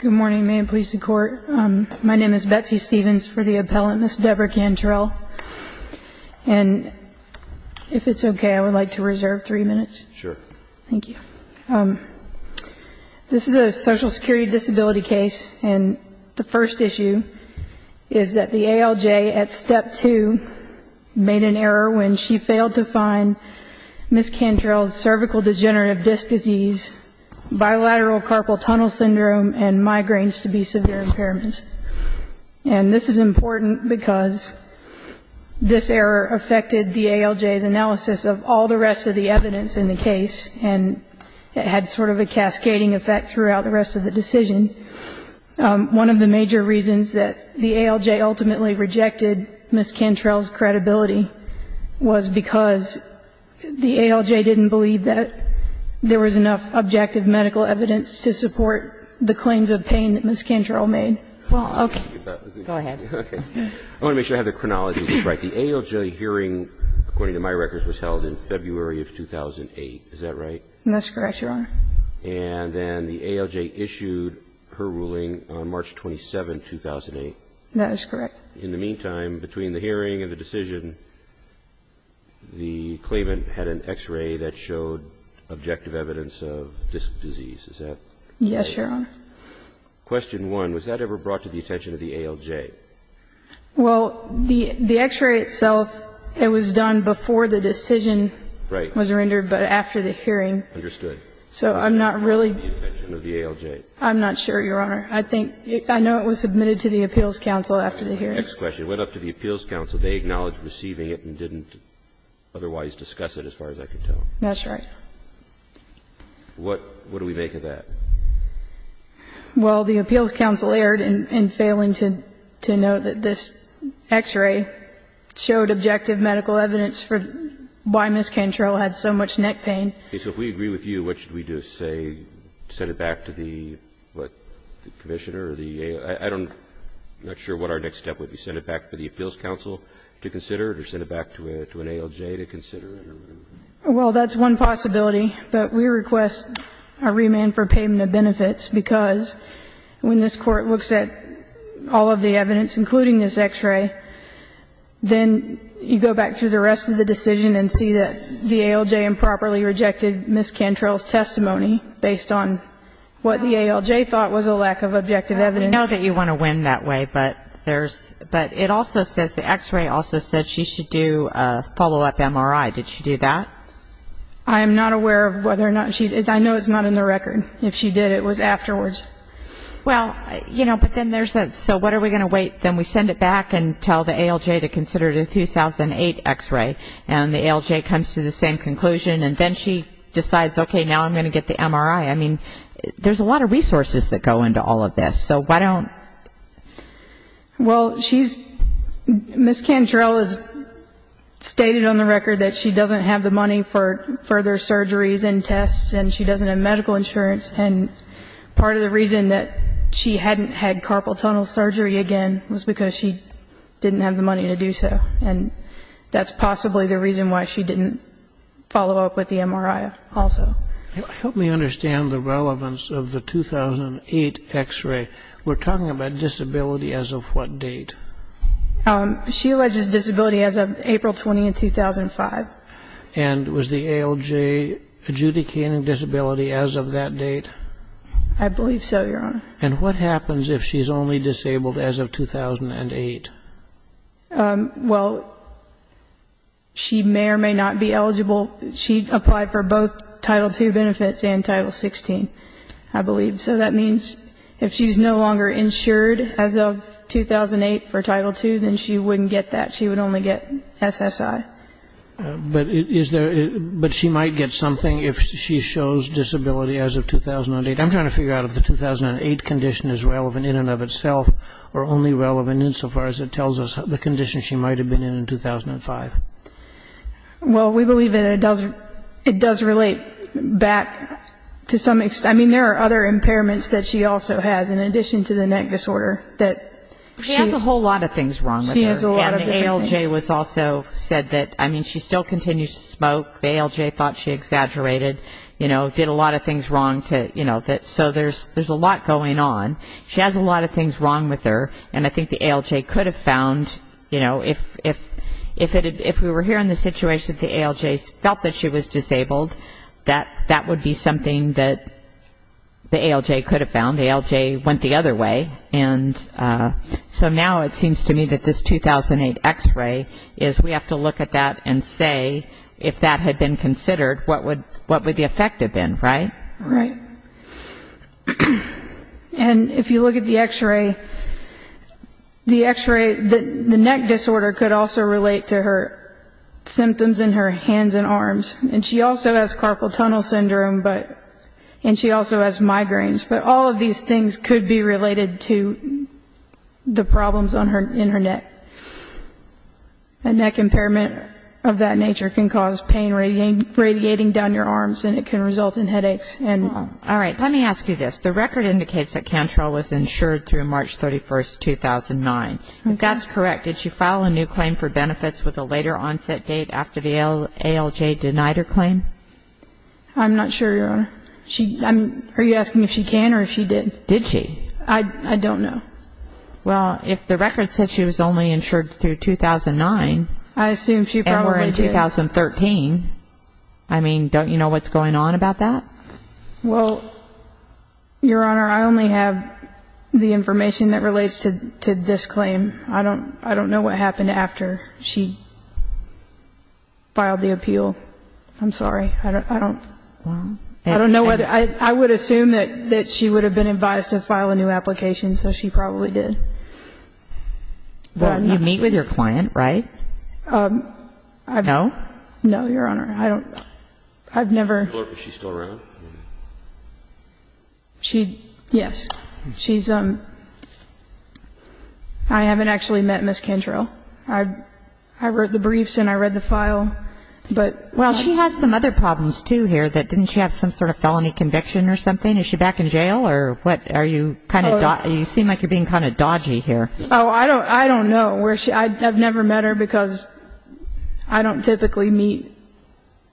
Good morning. May it please the Court. My name is Betsy Stevens for the appellant, Ms. Deborah Cantrell. And if it's okay, I would like to reserve three minutes. Sure. Thank you. This is a Social Security disability case, and the first issue is that the ALJ at Step 2 made an error when she failed to find Ms. Cantrell's cervical degenerative disc disease, bilateral carpal tunnel syndrome, and migraines to be severe impairments. And this is important because this error affected the ALJ's analysis of all the rest of the evidence in the case, and it had sort of a cascading effect throughout the rest of the decision. One of the major reasons that the ALJ ultimately rejected Ms. Cantrell's credibility was because the ALJ didn't believe that there was enough objective medical evidence to support the claims of pain that Ms. Cantrell made. Well, okay. Go ahead. I want to make sure I have the chronology just right. The ALJ hearing, according to my records, was held in February of 2008, is that right? That's correct, Your Honor. And then the ALJ issued her ruling on March 27, 2008. That is correct. In the meantime, between the hearing and the decision, the claimant had an X-ray that showed objective evidence of disc disease, is that right? Yes, Your Honor. Question 1. Was that ever brought to the attention of the ALJ? Well, the X-ray itself, it was done before the decision was rendered, but after the hearing. Understood. So I'm not really. Was that ever brought to the attention of the ALJ? I'm not sure, Your Honor. I think, I know it was submitted to the Appeals Council after the hearing. Next question. Went up to the Appeals Council. They acknowledged receiving it and didn't otherwise discuss it, as far as I can tell. That's right. What do we make of that? Well, the Appeals Council erred in failing to note that this X-ray showed objective medical evidence for why Ms. Cantrell had so much neck pain. Okay. So if we agree with you, what should we do? Say, send it back to the, what, the Commissioner or the ALJ? I don't, I'm not sure what our next step would be. Send it back to the Appeals Council to consider it or send it back to an ALJ to consider Well, that's one possibility, but we request a remand for payment of benefits because when this Court looks at all of the evidence, including this X-ray, then you go back through the rest of the decision and see that the ALJ improperly rejected Ms. Cantrell's testimony based on what the ALJ thought was a lack of objective evidence. I know that you want to win that way, but there's, but it also says, the X-ray also said she should do a follow-up MRI. Did she do that? I am not aware of whether or not she, I know it's not in the record. If she did, it was afterwards. Well, you know, but then there's that, so what are we going to wait, then we send it back and tell the ALJ to consider the 2008 X-ray and the ALJ comes to the same conclusion and then she decides, okay, now I'm going to get the MRI. I mean, there's a lot of resources that go into all of this. So why don't you do that? Well, she's, Ms. Cantrell has stated on the record that she doesn't have the money for further surgeries and tests and she doesn't have medical insurance. And part of the reason that she hadn't had carpal tunnel surgery again was because she didn't have the money to do so. And that's possibly the reason why she didn't follow up with the MRI also. Help me understand the relevance of the 2008 X-ray. We're talking about disability as of what date? She alleges disability as of April 20, 2005. And was the ALJ adjudicating disability as of that date? I believe so, Your Honor. And what happens if she's only disabled as of 2008? Well, she may or may not be eligible. She applied for both Title II benefits and Title XVI, I believe. So that means if she's no longer insured as of 2008 for Title II, then she wouldn't get that. She would only get SSI. But is there ‑‑ but she might get something if she shows disability as of 2008. I'm trying to figure out if the 2008 condition is relevant in and of itself or only relevant insofar as it tells us the condition she might have been in in 2005. Well, we believe that it does relate back to some extent. I mean, there are other impairments that she also has in addition to the neck disorder. She has a whole lot of things wrong with her. And the ALJ was also said that, I mean, she still continues to smoke. The ALJ thought she exaggerated, you know, did a lot of things wrong. So there's a lot going on. She has a lot of things wrong with her. And I think the ALJ could have found, you know, if we were here in the situation that the ALJ felt that she was disabled, that that would be something that the ALJ could have found. The ALJ went the other way. And so now it seems to me that this 2008 X-ray is we have to look at that and say if that had been considered, what would the effect have been, right? And if you look at the X-ray, the X-ray, the neck disorder could also relate to her symptoms in her hands and arms. And she also has carpal tunnel syndrome, and she also has migraines. But all of these things could be related to the problems in her neck. A neck impairment of that nature can cause pain radiating down your arms, and it can result in headaches. All right. Let me ask you this. The record indicates that Cantrell was insured through March 31, 2009. If that's correct, did she file a new claim for benefits with a later onset date after the ALJ denied her claim? I'm not sure, Your Honor. Are you asking if she can or if she did? Did she? I don't know. Well, if the record said she was only insured through 2009 and we're in 2013, I mean, don't you know what's going on about that? Well, Your Honor, I only have the information that relates to this claim. I don't know what happened after she filed the appeal. I'm sorry. I don't know. I would assume that she would have been advised to file a new application, so she probably did. Well, you meet with your client, right? No? No, Your Honor. I've never. Is she still around? Yes. She's um, I haven't actually met Ms. Cantrell. I wrote the briefs and I read the file, but. Well, she had some other problems, too, here. Didn't she have some sort of felony conviction or something? Is she back in jail or what? You seem like you're being kind of dodgy here. Oh, I don't know. I've never met her because I don't typically meet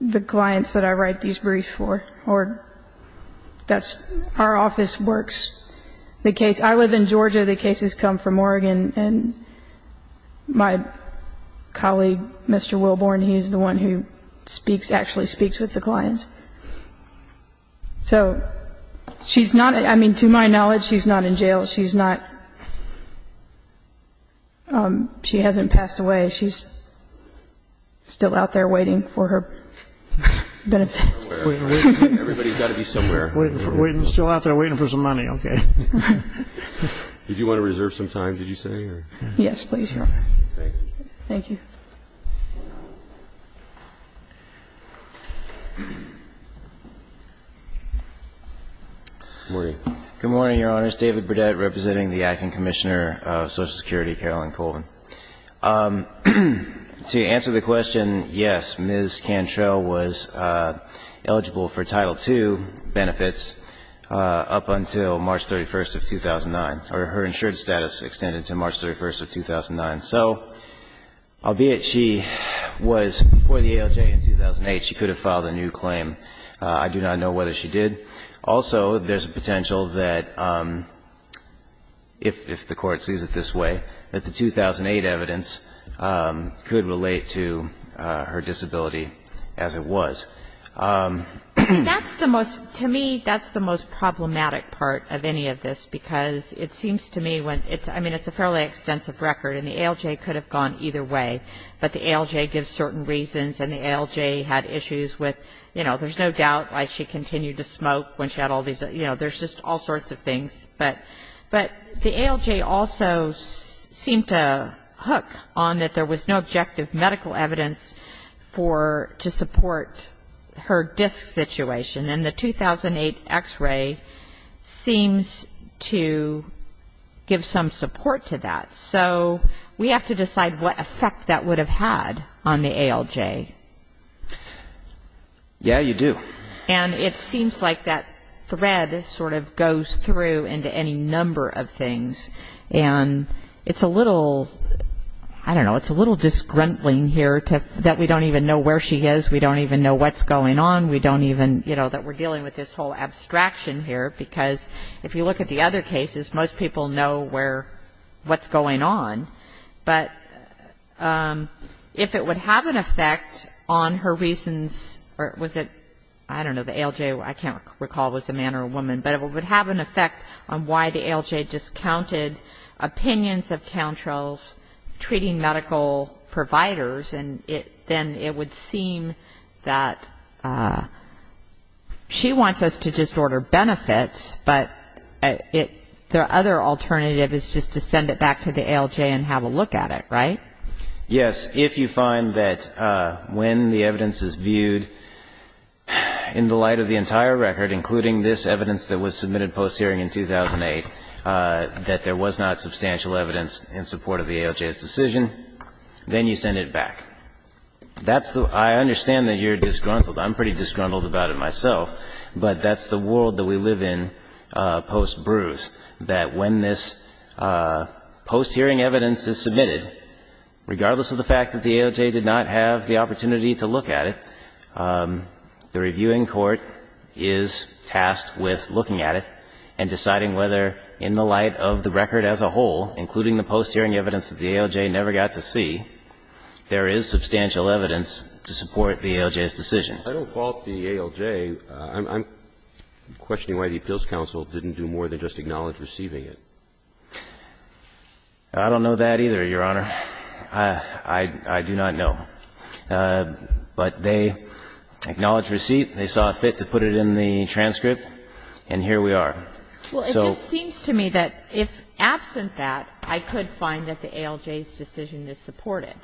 the clients that I write these briefs for, or our office works the case. I live in Georgia. The cases come from Oregon, and my colleague, Mr. Wilborn, he's the one who speaks, actually speaks with the clients. So she's not, I mean, to my knowledge, she's not in jail. She's not, she hasn't passed away. She's still out there waiting for her benefits. Everybody's got to be somewhere. Still out there waiting for some money, okay. Did you want to reserve some time, did you say? Yes, please, Your Honor. Thank you. Thank you. Good morning. Good morning, Your Honors. David Burdett representing the Acting Commissioner of Social Security, Carolyn Colvin. To answer the question, yes, Ms. Cantrell was eligible for Title II benefits up until March 31st of 2009, or her insured status extended to March 31st of 2009. So albeit she was before the ALJ in 2008, she could have filed a new claim. I do not know whether she did. Also, there's a potential that if the Court sees it this way, that the 2008 evidence could relate to her disability as it was. That's the most, to me, that's the most problematic part of any of this, because it seems to me when it's, I mean, it's a fairly extensive record, and the ALJ could have gone either way. But the ALJ gives certain reasons, and the ALJ had issues with, you know, there's no doubt why she continued to smoke when she had all these, you know, there's just all sorts of things. But the ALJ also seemed to hook on that there was no objective medical evidence for, to support her disc situation. And the 2008 x-ray seems to give some support to that. So we have to decide what effect that would have had on the ALJ. Yeah, you do. And it seems like that thread sort of goes through into any number of things. And it's a little, I don't know, it's a little disgruntling here that we don't even know where she is. We don't even know what's going on. We don't even, you know, that we're dealing with this whole abstraction here, because if you look at the other cases, most people know where, what's going on. But if it would have an effect on her reasons, or was it, I don't know, the ALJ, I can't recall if it was a man or a woman, but it would have an effect on why the ALJ discounted opinions of counsels treating medical providers, and then it would seem that she wants us to just order benefits, but the other alternative is just to send it back to the ALJ and have a look at it, right? Yes. If you find that when the evidence is viewed in the light of the entire record, including this evidence that was submitted post-hearing in 2008, that there was not substantial evidence in support of the ALJ's decision, then you send it back. I understand that you're disgruntled. I'm pretty disgruntled about it myself. But that's the world that we live in post-Bruce, that when this post-hearing evidence is submitted, regardless of the fact that the ALJ did not have the opportunity to look at it, the reviewing court is tasked with looking at it and deciding whether, in the light of the record as a whole, including the post-hearing evidence that the ALJ never got to see, there is substantial evidence to support the ALJ's decision. I don't fault the ALJ. I'm questioning why the appeals counsel didn't do more than just acknowledge receiving it. I don't know that either, Your Honor. I do not know. But they acknowledged receipt. They saw it fit to put it in the transcript. And here we are. Well, it just seems to me that if absent that, I could find that the ALJ's decision is supported.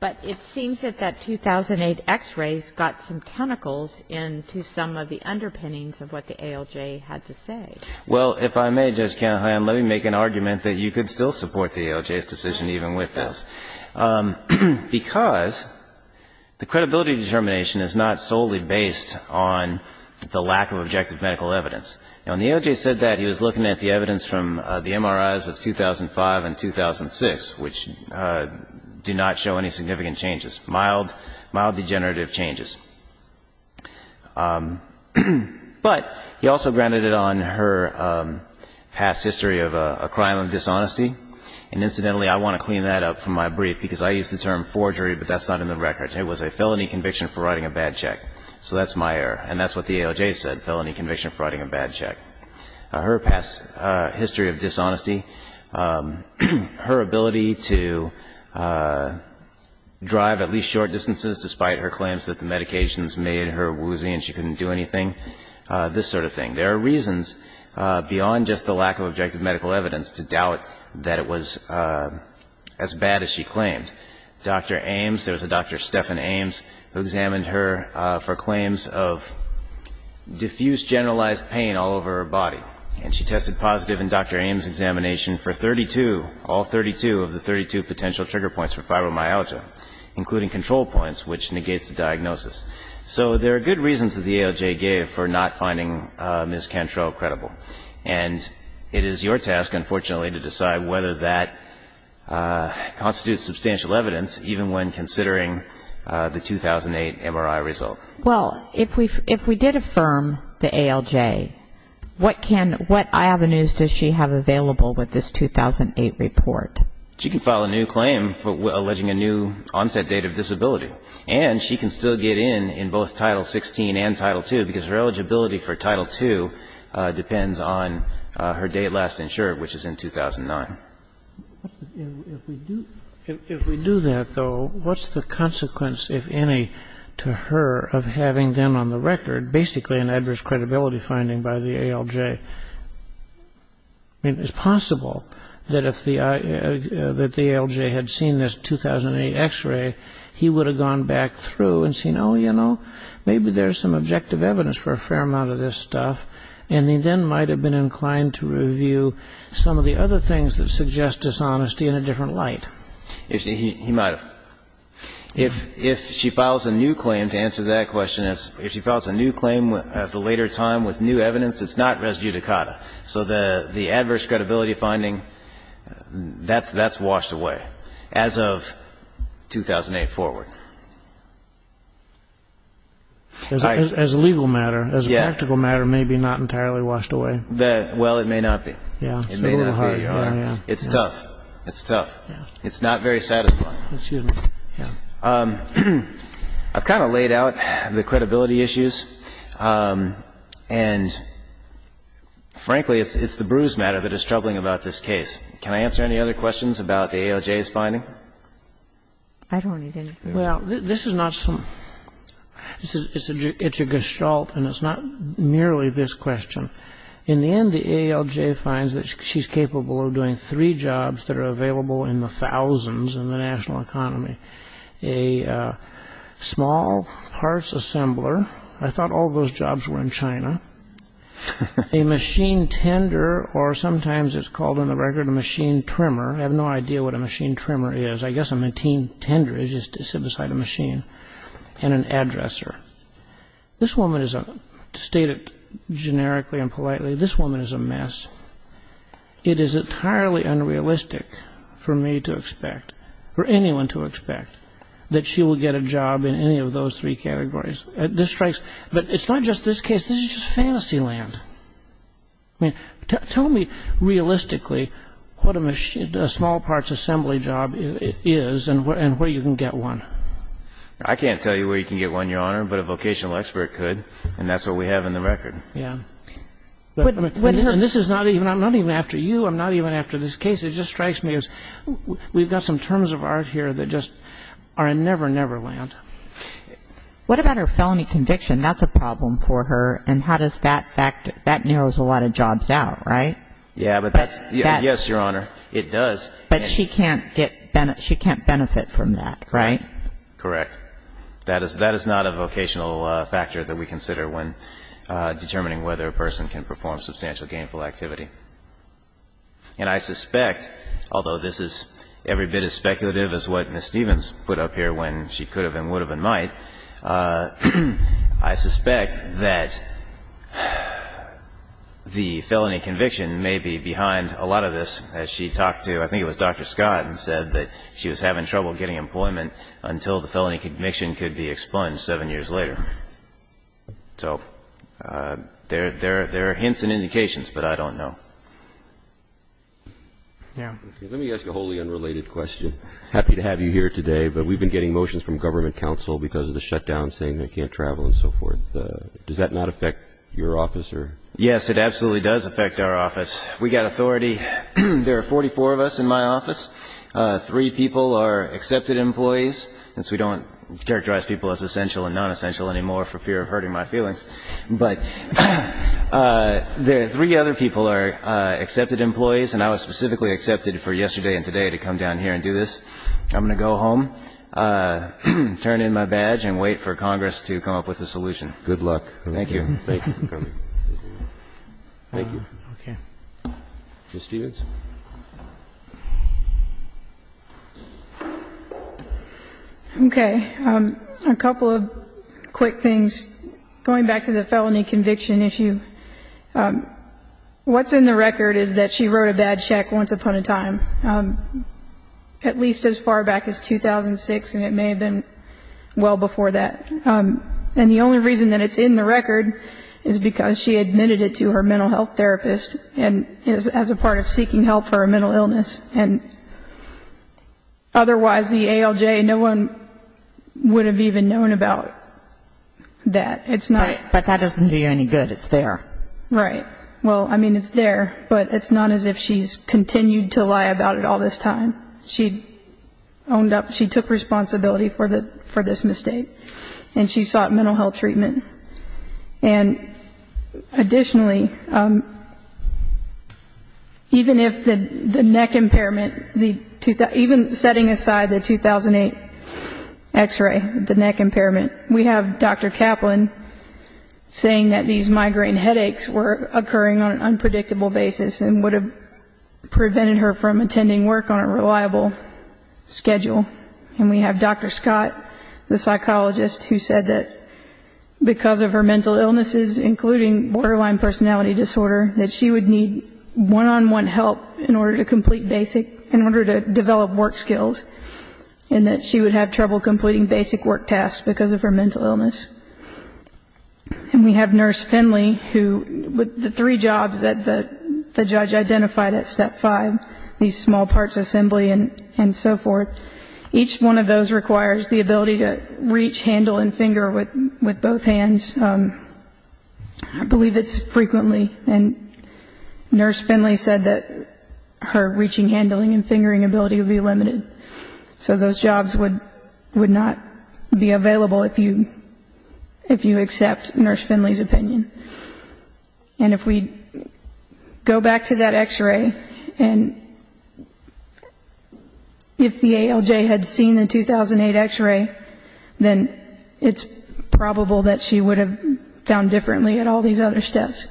But it seems that that 2008 X-rays got some tentacles into some of the underpinnings of what the ALJ had to say. Well, if I may, Judge Kagan, let me make an argument that you could still support the ALJ's decision even with this, because the credibility determination is not solely based on the lack of objective medical evidence. Now, when the ALJ said that, he was looking at the evidence from the MRIs of 2005 and 2006, which do not show any significant changes, mild, mild degenerative changes. But he also grounded it on her past history of a crime of dishonesty. And incidentally, I want to clean that up from my brief, because I used the term forgery, but that's not in the record. It was a felony conviction for writing a bad check. So that's my error. And that's what the ALJ said, felony conviction for writing a bad check. Her past history of dishonesty, her ability to drive at least short distances despite her claims that the medications made her woozy and she couldn't do anything, this sort of thing. There are reasons beyond just the lack of objective medical evidence to doubt that it was as bad as she claimed. Dr. Ames, there was a Dr. Stephan Ames who examined her for claims of diffuse generalized pain all over her body. And she tested positive in Dr. Ames' examination for 32, all 32 of the 32 potential trigger points for fibromyalgia, including control points, which negates the diagnosis. So there are good reasons that the ALJ gave for not finding Ms. Cantrell credible. And it is your task, unfortunately, to decide whether that constitutes substantial evidence, even when considering the 2008 MRI result. Well, if we did affirm the ALJ, what can, what avenues does she have available with this 2008 report? She can file a new claim alleging a new onset date of disability. And she can still get in in both Title 16 and Title 2 because her eligibility for Title 2 depends on her date last insured, which is in 2009. If we do that, though, what's the consequence, if any, to her of having them on the record, basically an adverse credibility finding by the ALJ? I mean, it's possible that if the ALJ had seen this 2008 X-ray, he would have gone back through and seen, oh, you know, maybe there's some objective evidence for a fair amount of this stuff. And he then might have been inclined to review some of the other things that suggest dishonesty in a different light. He might have. If she files a new claim, to answer that question, if she files a new claim at a later time with new evidence, it's not res judicata. So the adverse credibility finding, that's washed away as of 2008 forward. As a legal matter, as a practical matter, may be not entirely washed away. Well, it may not be. It may not be, Your Honor. It's tough. It's tough. It's not very satisfying. Excuse me. I've kind of laid out the credibility issues, and frankly, it's the bruise matter that is troubling about this case. Can I answer any other questions about the ALJ's finding? I don't need anything. Well, it's a gestalt, and it's not merely this question. In the end, the ALJ finds that she's capable of doing three jobs that are available in the thousands in the national economy. A small parts assembler. I thought all those jobs were in China. A machine tender, or sometimes it's called on the record a machine trimmer. I have no idea what a machine trimmer is. I guess a machine tender is just to sit beside a machine. And an addresser. This woman is a, to state it generically and politely, this woman is a mess. It is entirely unrealistic for me to expect, for anyone to expect, that she will get a job in any of those three categories. This strikes, but it's not just this case. This is just fantasy land. I mean, tell me realistically what a small parts assembly job is and where you can get one. I can't tell you where you can get one, Your Honor, but a vocational expert could, and that's what we have in the record. Yeah. But this is not even, I'm not even after you. I'm not even after this case. It just strikes me as we've got some terms of art here that just are in Never Never Land. What about her felony conviction? That's a problem for her. And how does that factor, that narrows a lot of jobs out, right? Yeah, but that's, yes, Your Honor, it does. But she can't get, she can't benefit from that, right? Correct. That is not a vocational factor that we consider when determining whether a person can perform substantial gainful activity. And I suspect, although this is every bit as speculative as what Ms. Stevens put up here when she could have and would have and might, I suspect that the felony conviction may be behind a lot of this, as she talked to, I think it was Dr. Scott, and said that she was having trouble getting employment until the felony conviction could be expunged seven years later. So there are hints and indications, but I don't know. Yeah. Let me ask a wholly unrelated question. I'm happy to have you here today, but we've been getting motions from government counsel because of the shutdown saying they can't travel and so forth. Does that not affect your office? Yes, it absolutely does affect our office. We've got authority. There are 44 of us in my office. Three people are accepted employees. Since we don't characterize people as essential and nonessential anymore for fear of hurting my feelings. But there are three other people are accepted employees, and I was specifically accepted for yesterday and today to come down here and do this. I'm going to go home, turn in my badge, and wait for Congress to come up with a solution. Good luck. Thank you. Thank you. Thank you. Okay. Ms. Stevens. Okay. A couple of quick things. Going back to the felony conviction issue, what's in the record is that she wrote a badge check once upon a time. At least as far back as 2006, and it may have been well before that. And the only reason that it's in the record is because she admitted it to her mental health therapist as a part of seeking help for a mental illness. And otherwise the ALJ, no one would have even known about that. But that doesn't do you any good. It's there. Right. Well, I mean, it's there, but it's not as if she's continued to lie about it all this time. She took responsibility for this mistake, and she sought mental health treatment. And additionally, even if the neck impairment, even setting aside the 2008 X-ray, the neck impairment, we have Dr. Kaplan saying that these migraine headaches were occurring on an unpredictable basis and would have prevented her from attending work on a reliable schedule. And we have Dr. Scott, the psychologist, who said that because of her mental illnesses, including borderline personality disorder, that she would need one-on-one help in order to complete basic, in order to develop work skills, and that she would have trouble completing basic work tasks because of her mental illness. And we have Nurse Finley, who, with the three jobs that the judge identified at step five, these small parts assembly and so forth, each one of those requires the ability to reach, handle, and finger with both hands. I believe it's frequently. And Nurse Finley said that her reaching, handling, and fingering ability would be limited. So those jobs would not be available if you accept Nurse Finley's opinion. And if we go back to that X-ray, and if the ALJ had seen the 2008 X-ray, then it's probable that she would have found differently at all these other steps.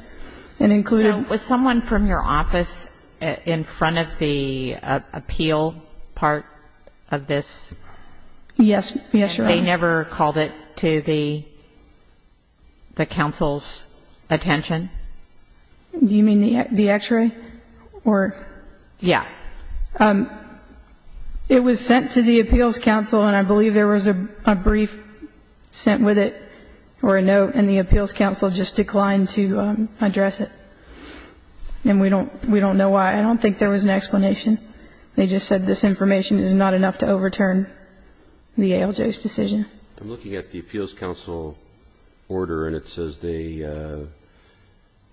So was someone from your office in front of the appeal part of this? Yes, Your Honor. And they never called it to the counsel's attention? Do you mean the X-ray? Yeah. It was sent to the appeals counsel, and I believe there was a brief sent with it or a note, and the appeals counsel just declined to address it. And we don't know why. I don't think there was an explanation. They just said this information is not enough to overturn the ALJ's decision. I'm looking at the appeals counsel order, and it says the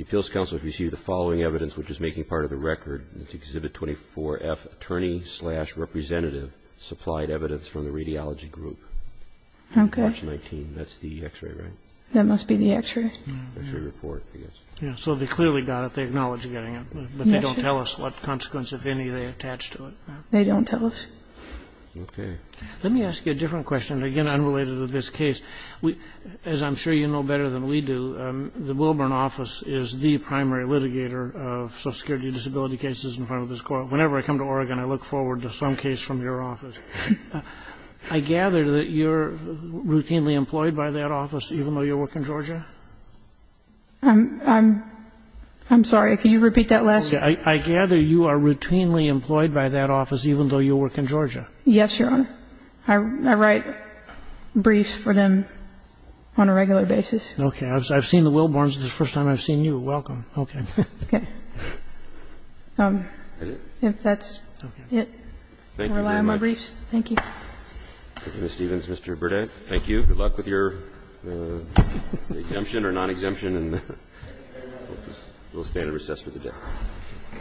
appeals counsel has received the following evidence, which is making part of the record. It's Exhibit 24F, attorney-slash-representative supplied evidence from the radiology group. Okay. That's the X-ray, right? That must be the X-ray. X-ray report, I guess. Yeah, so they clearly got it. They acknowledged getting it. But they don't tell us what consequence, if any, they attached to it. They don't tell us. Okay. Let me ask you a different question, again, unrelated to this case. As I'm sure you know better than we do, the Wilburn office is the primary litigator of Social Security disability cases in front of this Court. Whenever I come to Oregon, I look forward to some case from your office. I gather that you're routinely employed by that office, even though you work in Georgia? I'm sorry. Can you repeat that last sentence? I gather you are routinely employed by that office, even though you work in Georgia. Yes, Your Honor. I write briefs for them on a regular basis. Okay. I've seen the Wilburns. This is the first time I've seen you. Welcome. Okay. Okay. If that's it, I'll rely on my briefs. Thank you very much. Thank you. Thank you, Ms. Stevens. Mr. Burdett, thank you. Good luck with your exemption or non-exemption. And we'll stand at recess for the day.